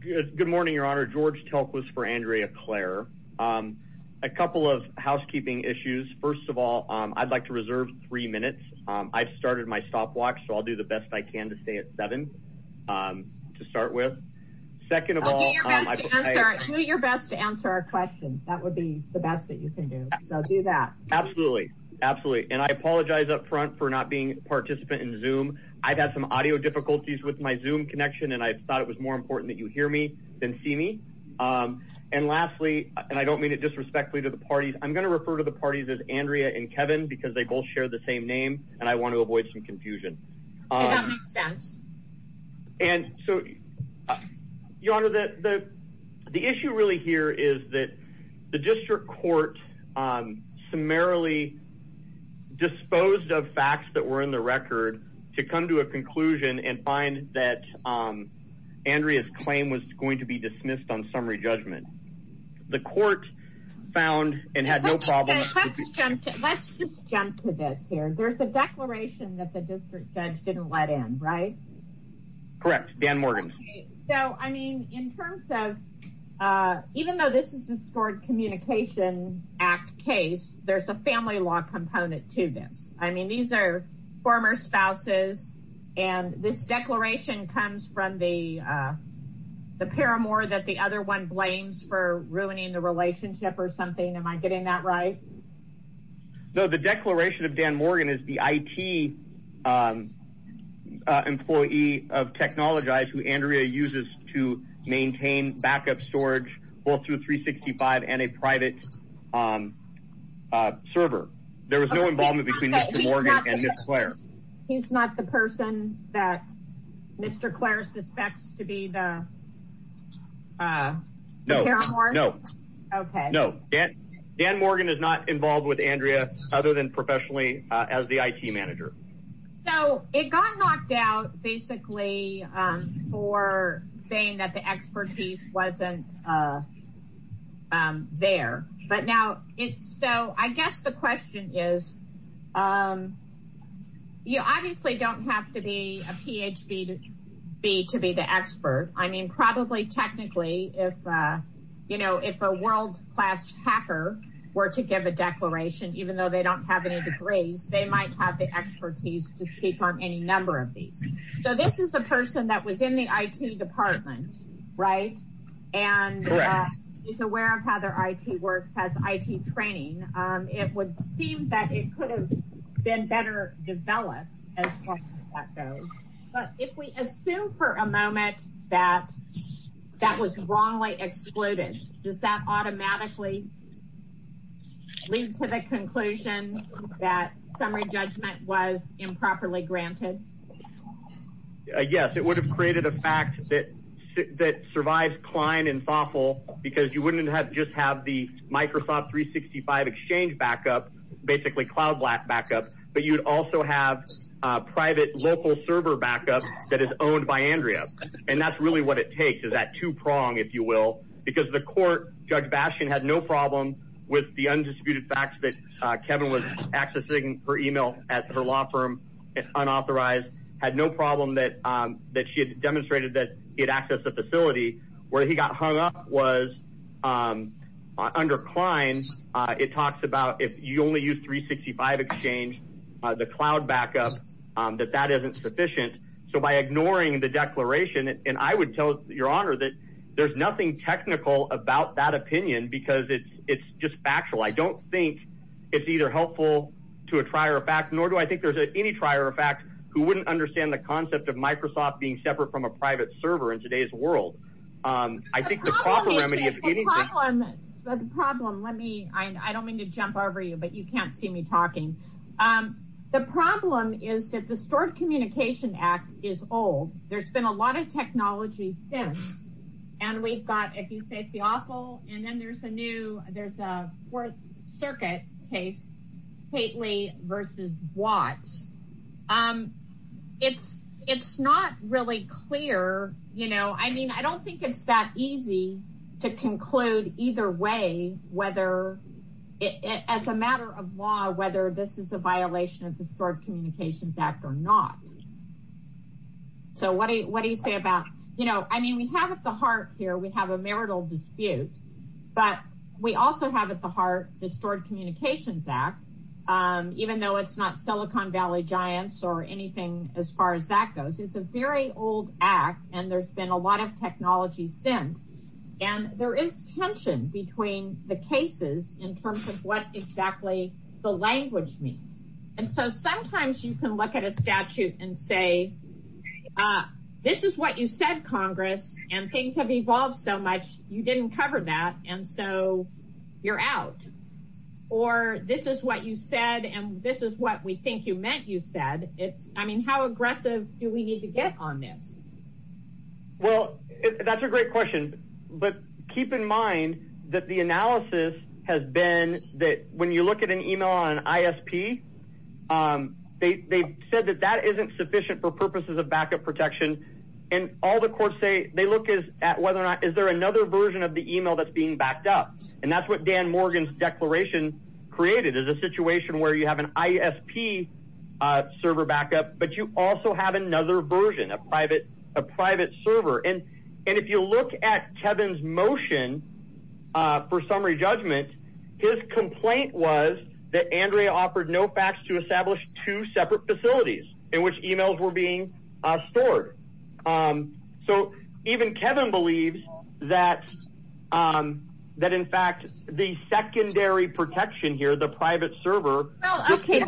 Good morning, Your Honor. George Telk was for Andrea Clare. A couple of housekeeping issues. First of all, I'd like to reserve three minutes. I've started my stopwatch, so I'll do the best I can to stay at seven to start with. Second of all, I'll do your best to answer our questions. That would be the best that you can do. So do that. Absolutely. Absolutely. And I apologize up front for not being a participant in Zoom. I've had some audio difficulties with my Zoom connection, and I thought it was more important that you hear me than see me. And lastly, and I don't mean it disrespectfully to the parties, I'm going to refer to the parties as Andrea and Kevin because they both share the same name, and I want to avoid some confusion. And so, Your Honor, the issue really here is that the district court summarily disposed of facts that to come to a conclusion and find that Andrea's claim was going to be dismissed on summary judgment. The court found and had no problem... Let's just jump to this here. There's a declaration that the district judge didn't let in, right? Correct. Dan Morgan. So, I mean, in terms of, even though this is the Scored Communication Act case, there's a family law component to this. I mean, these are former spouses, and this declaration comes from the paramour that the other one blames for ruining the relationship or something. Am I getting that right? No, the declaration of Dan Morgan is the IT employee of Technologize who Andrea uses to Mr. Morgan and Ms. Clare. He's not the person that Mr. Clare suspects to be the paramour? No. Okay. No. Dan Morgan is not involved with Andrea other than professionally as the IT manager. So, it got knocked out basically for saying that the expertise wasn't there. So, I guess the question is, you obviously don't have to be a PhD to be the expert. I mean, probably technically, if a world-class hacker were to give a declaration, even though they don't have any degrees, they might have the expertise to speak on any number of these. So, this is a person that was in the IT department, right, and is aware of how their IT works, has IT training. It would seem that it could have been better developed as far as that goes. But if we assume for a moment that that was wrongly excluded, does that automatically lead to the conclusion that summary judgment was improperly granted? Yes. It would have created a fact that survives Klein and Fafel because you wouldn't just have the Microsoft 365 exchange backup, basically cloud backup, but you'd also have private local server backup that is owned by Andrea. And that's really what it takes is that two-prong, if you will, because the court, Judge Bastian had no problem with the undisputed facts that Kevin was accessing her email at her law firm unauthorized, had no problem that she had demonstrated that he had access to the facility. Where he got hung up was under Klein, it talks about if you only use 365 exchange, the cloud backup, that that isn't sufficient. So, by ignoring the declaration, and I would tell your honor that there's nothing technical about that opinion because it's just factual. I don't think it's either helpful to a trier of fact, nor do I think there's any trier of fact who wouldn't understand the concept of Microsoft being separate from a private server in today's world. I think the proper remedy is getting the problem. Let me, I don't mean to jump over you, but you can't see me talking. The problem is that the Stored Communication Act is old. There's been a lot of technology since, and we've got, if you say it's the awful, and then there's a new, there's a Fourth Circuit case, Pateley versus Watts. It's not really clear, you know, I mean, I don't think it's that easy to conclude either way whether, as a matter of law, whether this is a you know, I mean, we have at the heart here, we have a marital dispute, but we also have at the heart the Stored Communications Act, even though it's not Silicon Valley Giants, or anything as far as that goes. It's a very old act, and there's been a lot of technology since, and there is tension between the cases in terms of what exactly the language means. And so, sometimes you can look at a statute and say, this is what you said, Congress, and things have evolved so much, you didn't cover that, and so you're out. Or, this is what you said, and this is what we think you meant you said. It's, I mean, how aggressive do we need to get on this? Well, that's a great question, but keep in the analysis has been that when you look at an email on an ISP, they said that that isn't sufficient for purposes of backup protection. And all the courts say, they look at whether or not, is there another version of the email that's being backed up? And that's what Dan Morgan's declaration created, is a situation where you have an ISP server backup, but you also have another version, a private server. And if you look at Kevin's motion for summary judgment, his complaint was that Andrea offered no facts to establish two separate facilities in which emails were being stored. So, even Kevin believes that, in fact, the secondary protection here, the private server... Okay,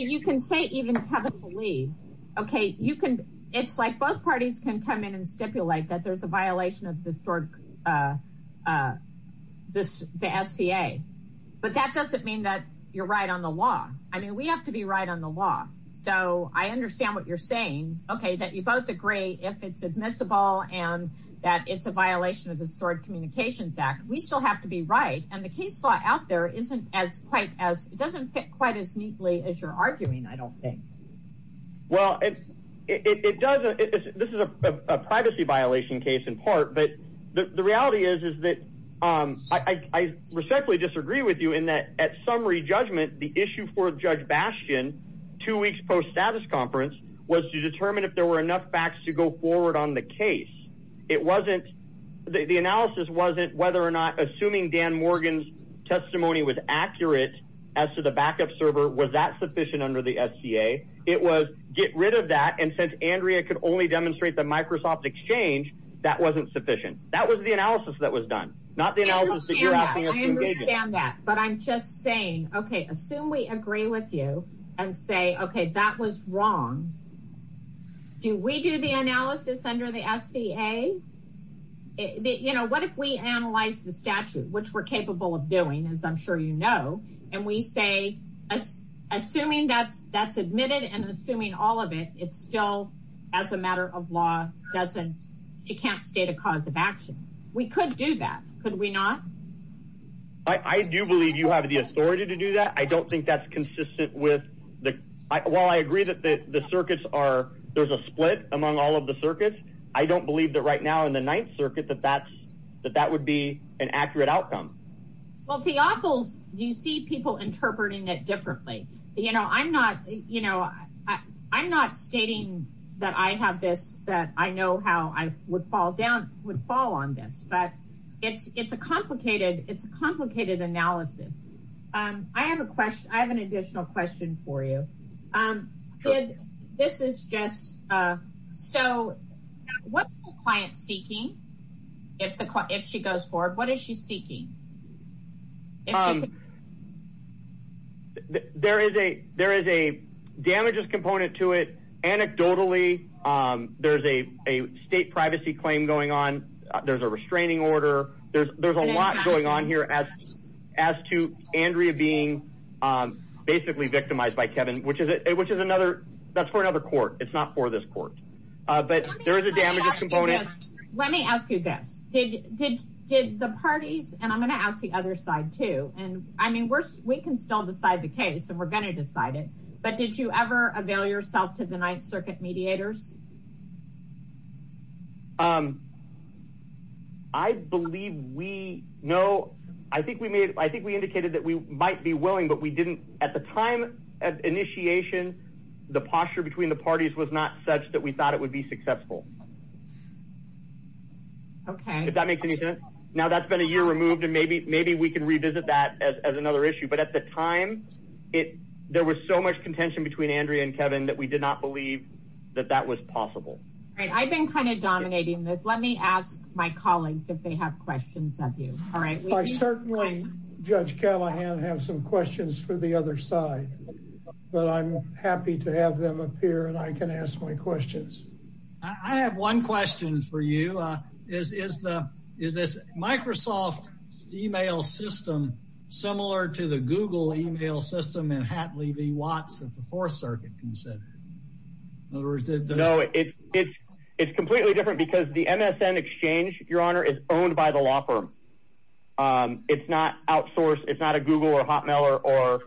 you can say even Kevin believed. Okay, you can, it's like both parties can come in and stipulate that there's a violation of the stored, the SCA. But that doesn't mean that you're right on the law. I mean, we have to be right on the law. So, I understand what you're saying. Okay, that you both agree, if it's admissible, and that it's a violation of the Stored Communications Act, we still have to be right. And the case law out there isn't as quite as neatly as you're arguing, I don't think. Well, it does, this is a privacy violation case in part, but the reality is, is that I respectfully disagree with you in that, at summary judgment, the issue for Judge Bastian, two weeks post-status conference, was to determine if there were enough facts to go forward on the case. It wasn't, the analysis wasn't whether or not, assuming Dan as to the backup server, was that sufficient under the SCA? It was, get rid of that, and since Andrea could only demonstrate the Microsoft Exchange, that wasn't sufficient. That was the analysis that was done, not the analysis that you're asking us to engage in. I understand that, but I'm just saying, okay, assume we agree with you and say, okay, that was wrong. Do we do the analysis under the SCA? You know, what if we analyze the statute, which we're capable of doing, as I'm sure you know, and we say, assuming that's admitted and assuming all of it, it still, as a matter of law, doesn't, she can't state a cause of action. We could do that, could we not? I do believe you have the authority to do that. I don't think that's consistent with the, while I agree that the circuits are, there's a split among all of the circuits, I don't believe that right now in the outcome. Well, the awful, you see people interpreting it differently. You know, I'm not, you know, I'm not stating that I have this, that I know how I would fall down, would fall on this, but it's, it's a complicated, it's a complicated analysis. I have a question, I have an additional question for you. Did, this is just, so what's the client seeking, if the, if she goes forward, what is she seeking? There is a, there is a damages component to it. Anecdotally, there's a, a state privacy claim going on. There's a restraining order. There's, there's a lot going on here as, as to Andrea being basically victimized by Kevin, which is, which is another, that's for another court. It's not for this court, but there is a damages component. Let me ask you this, did, did, did the parties, and I'm going to ask the other side too, and I mean, we're, we can still decide the case and we're going to decide it, but did you ever avail yourself to the Ninth Circuit mediators? I believe we know, I think we made, I think we indicated that we might be willing, but we didn't at the time of initiation, the posture between the parties was not such that we thought it would be successful. Okay. If that makes any sense. Now that's been a year removed and maybe, maybe we can revisit that as another issue. But at the time it, there was so much contention between Andrea and Kevin that we did not believe that that was possible. Right. I've been kind of dominating this. Let me ask my colleagues if they have questions of you. All right. I certainly, Judge Callahan, have some questions for the other side, but I'm happy to have them appear and I can ask my questions. I have one question for you. Is, is the, is this Microsoft email system similar to the Google email system in Hatley v. Watts at the Fourth Circuit considered? No, it's, it's, it's completely different because the MSN Exchange, Your Honor, is owned by the law firm. It's not outsourced. It's not a Google or Hotmail or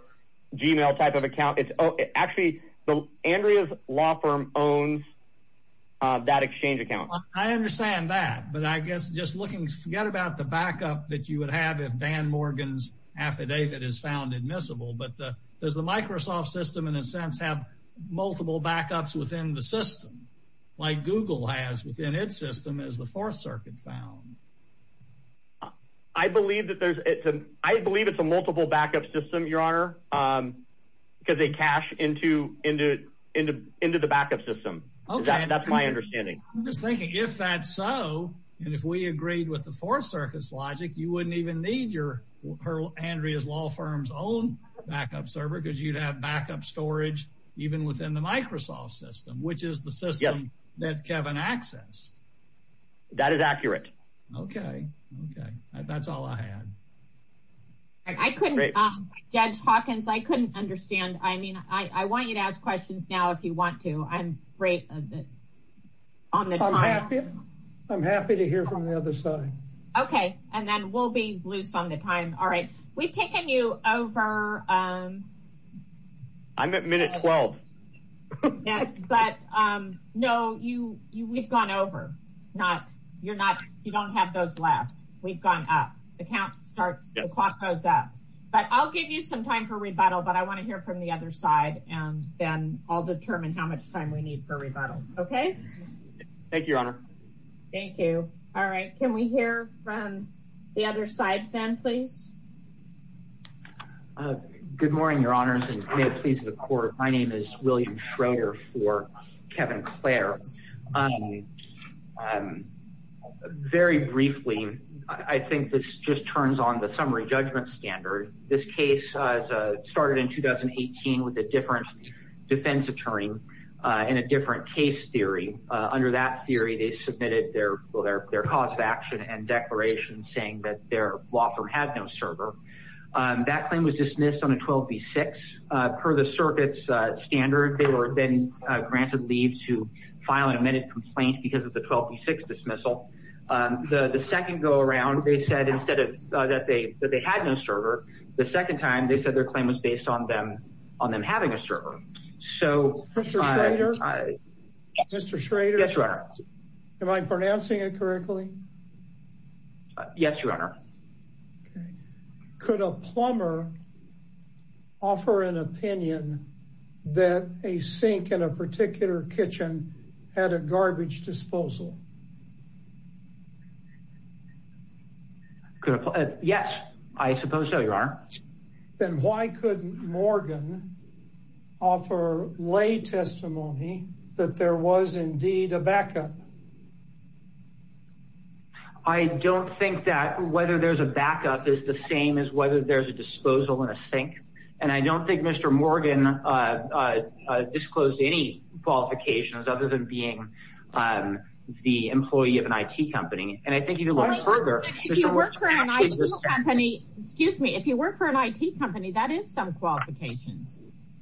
Gmail type of account. It's actually, Andrea's law firm owns that exchange account. I understand that, but I guess just looking, forget about the backup that you would have if Dan Morgan's affidavit is found admissible, but the, does the Microsoft system in a sense have multiple backups within the system like Google has within its system as the Fourth Circuit found? I believe that there's, it's a, I believe it's a multiple backup system, Your Honor, because they cache into, into, into, into the backup system. That's my understanding. I'm just thinking if that's so, and if we agreed with the Fourth Circuit's logic, you wouldn't even need your, Andrea's law firm's own backup server because you'd have backup storage even within the Microsoft system, which is the system that Kevin accessed. That is accurate. Okay. Okay. That's all I had. I couldn't, Judge Hawkins, I couldn't understand. I mean, I want you to ask questions now if you want to. I'm afraid of the, on the time. I'm happy to hear from the other side. Okay. And then we'll be loose on the time. All right. We've taken you over. I'm at minute 12. Yeah, but no, you, you, we've gone over, not, you're not, you don't have those left. We've gone up. The count starts, the clock goes up, but I'll give you some time for rebuttal, but I want to hear from the other side and then I'll determine how much time we need for rebuttal. Okay. Thank you, Your Honor. Thank you. All right. Can we hear from the other side then, please? Good morning, Your Honors, and may it please the Court. My name is William Schroeder for Kevin Clare. Very briefly, I think this just turns on the summary judgment standard. This case started in 2018 with a different defense attorney and a different case theory. Under that theory, they submitted their cause of action and declaration saying that their server, that claim was dismissed on a 12B6. Per the circuit's standard, they were then granted leave to file an amended complaint because of the 12B6 dismissal. The second go-around, they said instead of, that they, that they had no server, the second time they said their claim was based on them, on them having a server. So... Mr. Schroeder? Mr. Schroeder? Yes, Your Honor. Okay. Could a plumber offer an opinion that a sink in a particular kitchen had a garbage disposal? Yes, I suppose so, Your Honor. Then why couldn't Morgan offer lay testimony that there was indeed a backup? I don't think that whether there's a backup is the same as whether there's a disposal in a sink. And I don't think Mr. Morgan disclosed any qualifications other than being the employee of an IT company. And I think if you look further... If you work for an IT company, excuse me, if you work for an IT company, that is some qualifications.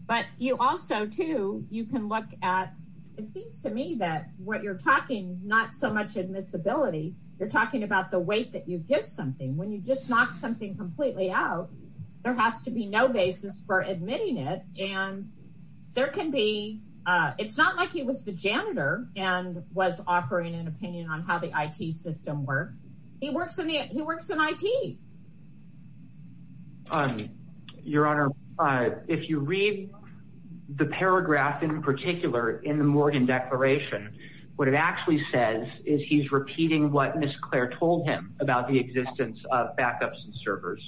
But you also, too, you can look at... It seems to me that what you're talking, not so much admissibility, you're talking about the weight that you give something. When you just knock something completely out, there has to be no basis for admitting it. And there can be... It's not like he was the janitor and was offering an opinion on how the IT system works. He works in IT. Your Honor, if you read the paragraph in particular in the Morgan Declaration, what it actually says is he's repeating what Ms. Clare told him about the existence of backups and servers.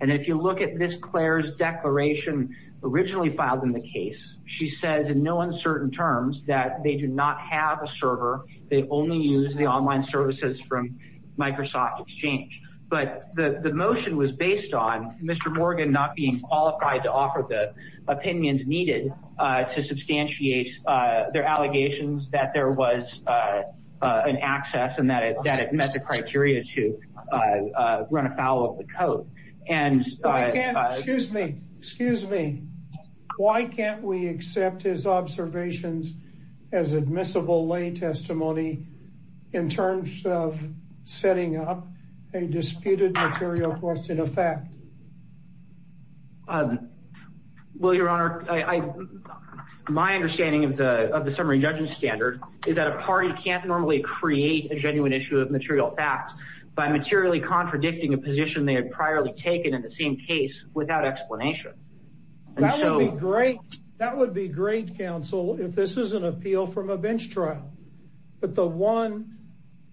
And if you look at Ms. Clare's declaration originally filed in the case, she says in no uncertain terms that they do not have a server. They only use the online services from Microsoft Exchange. But the motion was based on Mr. Morgan not being qualified to offer the opinions needed to substantiate their allegations that there was an access and that it met the criteria to run afoul of the code. And... I can't... Excuse me. Excuse me. Why can't we accept his observations as admissible lay testimony in terms of setting up a disputed material question of fact? Well, Your Honor, I... My understanding of the summary judgment standard is that a party can't normally create a genuine issue of material facts by materially contradicting a position they had priorly taken in the same case without explanation. That would be great. That would be great, counsel, if this is an appeal from a bench trial. But the one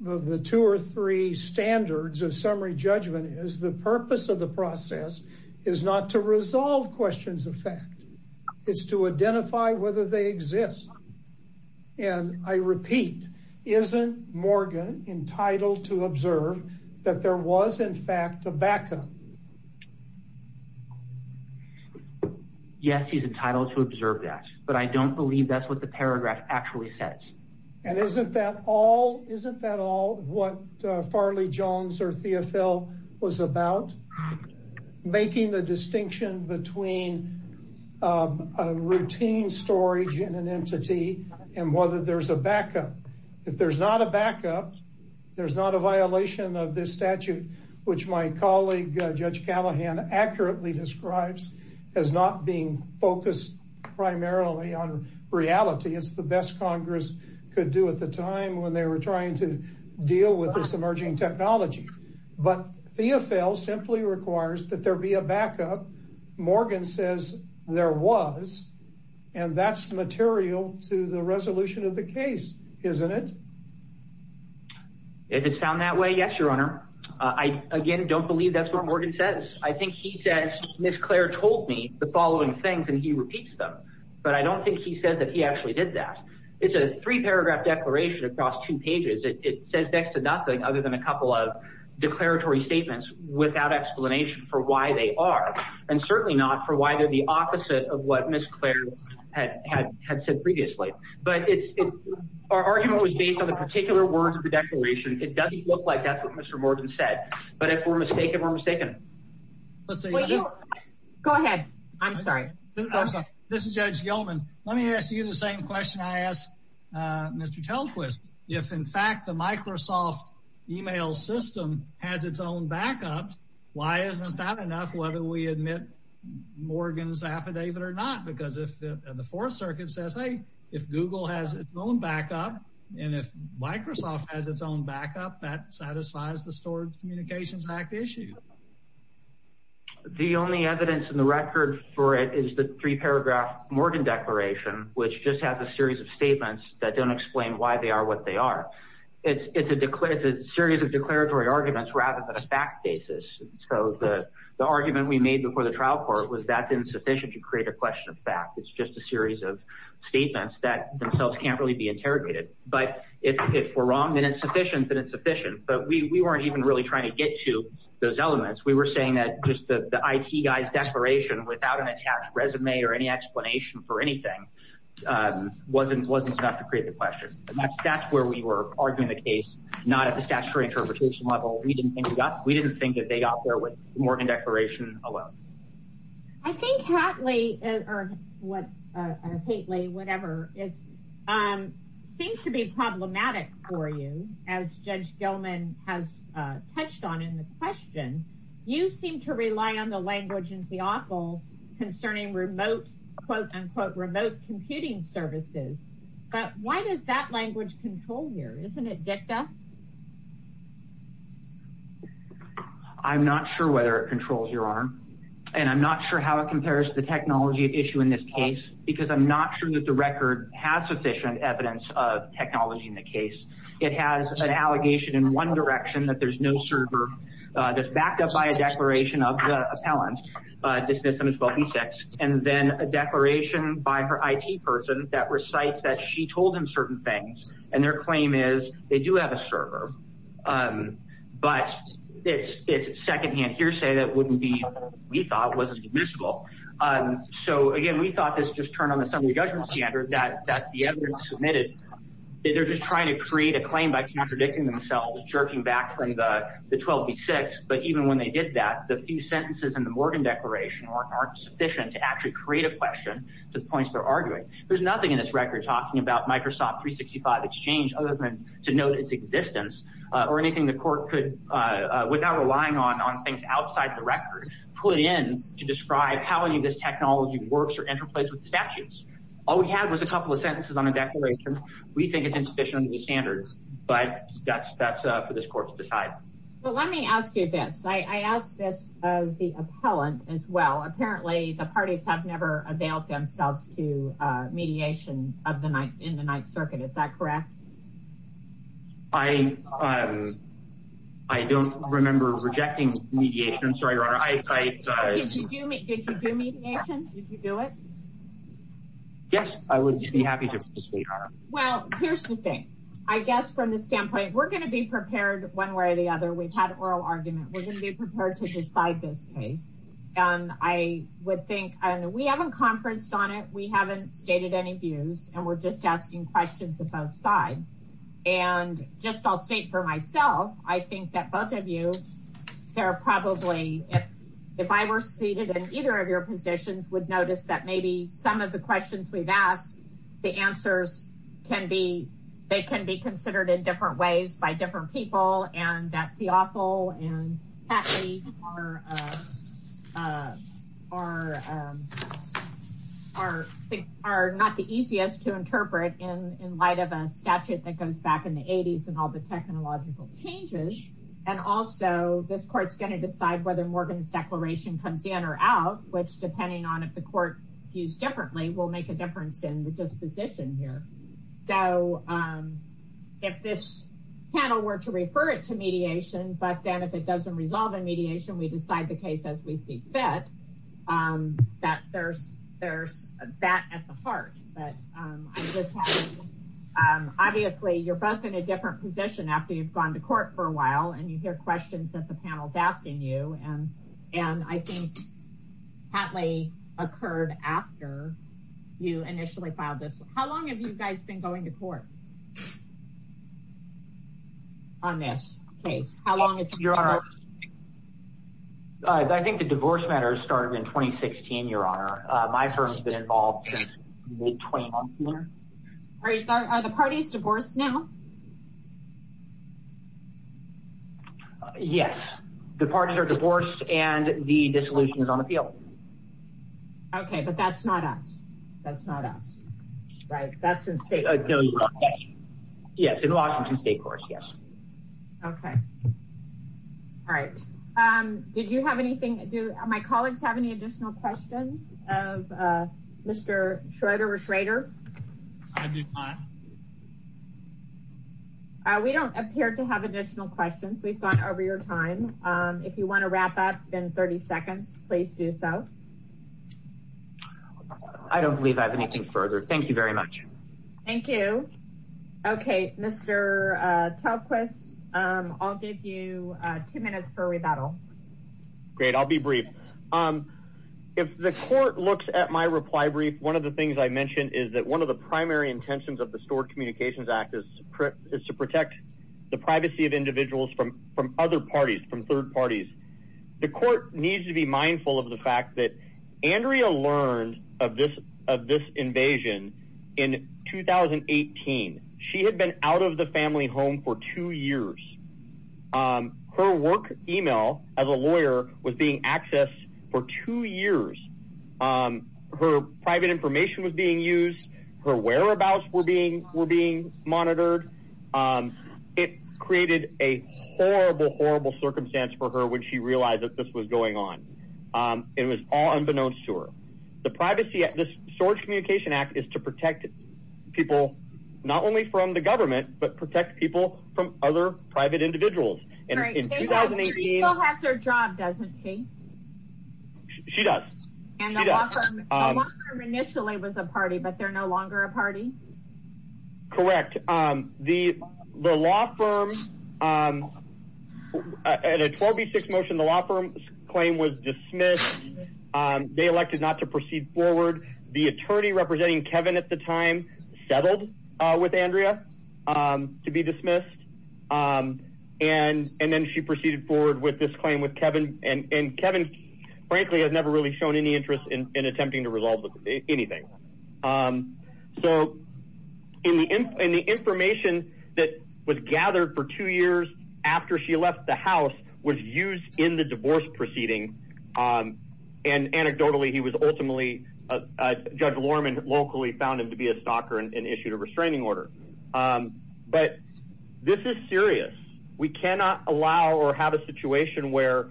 of the two or three standards of summary judgment is the purpose of the process is not to resolve questions of fact. It's to identify whether they exist. And I repeat, isn't Morgan entitled to observe that there was in fact a backup? Yes, he's entitled to observe that. But I don't believe that's what the paragraph actually says. And isn't that all? Isn't that all what Farley Jones or Theofil was about? Making the distinction between a routine storage in an entity and whether there's a backup. If there's not a which my colleague Judge Callahan accurately describes as not being focused primarily on reality, it's the best Congress could do at the time when they were trying to deal with this emerging technology. But Theofil simply requires that there be a backup. Morgan says there was. And that's material to the resolution of the case, isn't it? Does it sound that way? Yes, Your Honor. I again don't believe that's what Morgan says. I think he says Ms. Clare told me the following things and he repeats them. But I don't think he said that he actually did that. It's a three paragraph declaration across two pages. It says next to nothing other than a couple of declaratory statements without explanation for why they are. And certainly not for why they're the opposite of what Ms. Clare had said previously. But our argument was based on the particular words of the declaration. It doesn't look like that's what Mr. Morgan said. But if we're mistaken, we're mistaken. Go ahead. I'm sorry. This is Judge Gilman. Let me ask you the same question I asked Mr. Telquist. If in fact the Microsoft email system has its own backups, why isn't that enough whether we admit Morgan's affidavit or not? Because if the Fourth Circuit says, hey, if Google has its own backup, and if Microsoft has its own backup, that satisfies the Storage Communications Act issue. The only evidence in the record for it is the three paragraph Morgan declaration, which just has a series of statements that don't explain why they are what they are. It's a series of declaratory arguments rather than a fact basis. So the argument we made before the trial court was that's insufficient to create a question of fact. It's just a series of interrogated. But if we're wrong, then it's sufficient, then it's sufficient. But we weren't even really trying to get to those elements. We were saying that just the IT guy's declaration without an attached resume or any explanation for anything wasn't enough to create the question. That's where we were arguing the case, not at the statutory interpretation level. We didn't think that they got there with Morgan declaration alone. I think, Hatley, or Pateley, whatever, it seems to be problematic for you, as Judge Gelman has touched on in the question. You seem to rely on the language in the awful concerning remote, quote, unquote, remote computing services. But why does that language control here? Isn't it dicta? I'm not sure whether it controls your arm, and I'm not sure how it compares to the technology issue in this case, because I'm not sure that the record has sufficient evidence of technology in the case. It has an allegation in one direction that there's no server that's backed up by a declaration of the appellant, dismiss them as wealthy sex, and then a declaration by her IT person that recites that she told him certain things. And their claim is they do have a server. But it's secondhand hearsay that wouldn't be, we thought, wasn't admissible. So, again, we thought this just turned on the summary judgment standard that the evidence submitted. They're just trying to create a claim by contradicting themselves, jerking back from the 12B6. But even when they did that, the few sentences in the Morgan declaration aren't sufficient to actually create a question to the points they're arguing. There's nothing in this or anything the court could, without relying on things outside the record, put in to describe how any of this technology works or interplays with statutes. All we had was a couple of sentences on a declaration. We think it's insufficient to the standards, but that's for this court to decide. But let me ask you this. I asked this of the appellant as well. Apparently, the parties have never availed themselves to mediation in the Ninth Circuit. Is that correct? I don't remember rejecting mediation. I'm sorry, Your Honor. Did you do mediation? Did you do it? Yes, I would be happy to. Well, here's the thing. I guess from the standpoint, we're going to be prepared one way or the other. We've had oral argument. We're going to be prepared to decide this case. I would think, and we haven't conferenced on it, we haven't stated any views, and we're just asking questions of both sides. I'll state for myself, I think that both of you, if I were seated in either of your positions, would notice that maybe some of the questions we've asked, the answers can be considered in different ways by different people, and that in light of a statute that goes back in the 80s and all the technological changes. And also, this court's going to decide whether Morgan's declaration comes in or out, which depending on if the court views differently, will make a difference in the disposition here. So if this panel were to refer it to mediation, but then if it doesn't resolve in mediation, we decide the case as we see fit, that there's that at the heart. Obviously, you're both in a different position after you've gone to court for a while, and you hear questions that the panel's asking you. And I think, Hatley, occurred after you initially filed this. How long have you guys been going to court on this case? How long has it been going on? Your Honor, I think the divorce matters started in 2016, Your Honor. My firm's been involved since mid-2014. Are the parties divorced now? Yes, the parties are divorced, and the dissolution is on appeal. Okay, but that's not us. That's not us, right? That's insane. No, you're right. Yes, in Washington State, of course, yes. Okay. All right. Did you have anything? Do my colleagues have any additional questions of Mr. Schroeder or Schroeder? We don't appear to have additional questions. We've gone over your time. If you want to wrap up in 30 seconds, please do so. I don't believe I have anything further. Thank you very much. Thank you. Okay, Mr. Talquist, I'll give you two minutes for rebuttal. Great. I'll be brief. If the court looks at my reply brief, one of the things I mentioned is that one of the primary intentions of the Stored Communications Act is to protect the privacy of individuals from other parties, from third parties. The court needs to be mindful of the fact Andrea learned of this invasion in 2018. She had been out of the family home for two years. Her work email as a lawyer was being accessed for two years. Her private information was being used. Her whereabouts were being monitored. It created a horrible, horrible circumstance for her when she realized that this was going on. It was all unbeknownst to her. The privacy of the Storage Communications Act is to protect people, not only from the government, but protect people from other private individuals. She still has her job, doesn't she? She does. And the law firm initially was a party, but they're no longer a party? Correct. The law firm, at a 12B6 motion, the law firm's claim was dismissed. They elected not to proceed forward. The attorney representing Kevin at the time settled with Andrea to be dismissed. And then she proceeded forward with this claim with Kevin. And Kevin, frankly, has never really shown any interest in attempting to resolve anything. So the information that was gathered for two years after she left the house was used in the divorce proceeding. And anecdotally, Judge Lorman locally found him to be a stalker and issued a restraining order. But this is serious. We cannot allow or have a situation where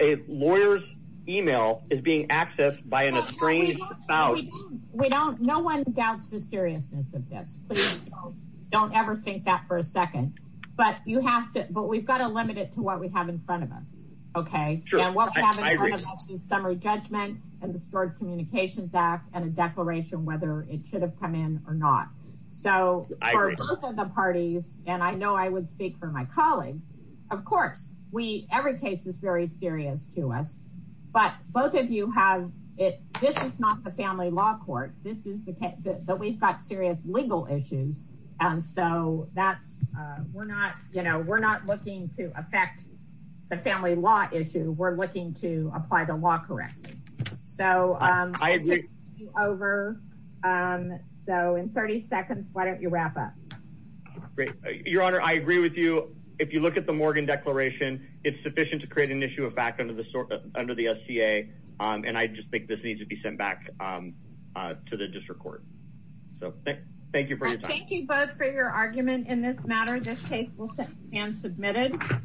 a lawyer's email is being accessed by an estranged spouse. No one doubts the seriousness of this. Please don't ever think that for a second. But we've got to limit it to what we have in front of us. And what we have in front of us is summary judgment and the Storage Communications Act and a declaration whether it should have come in or not. So for both of the parties, and I know I would speak for my colleagues, of course, every case is very serious to us. But both of you have it. This is not the family law court. This is the case that we've got serious legal issues. And so that's we're not, you know, we're not looking to affect the family law issue. We're looking to apply the law correctly. So I agree over. So in 30 seconds, why don't you wrap up? Great, Your Honor, I agree with you. If you look at the Morgan declaration, it's sufficient to create an issue of fact under the under the SCA. And I just think this needs to be sent back to the district court. So thank you for your time. Thank you both for your argument in this matter. This case will stand submitted.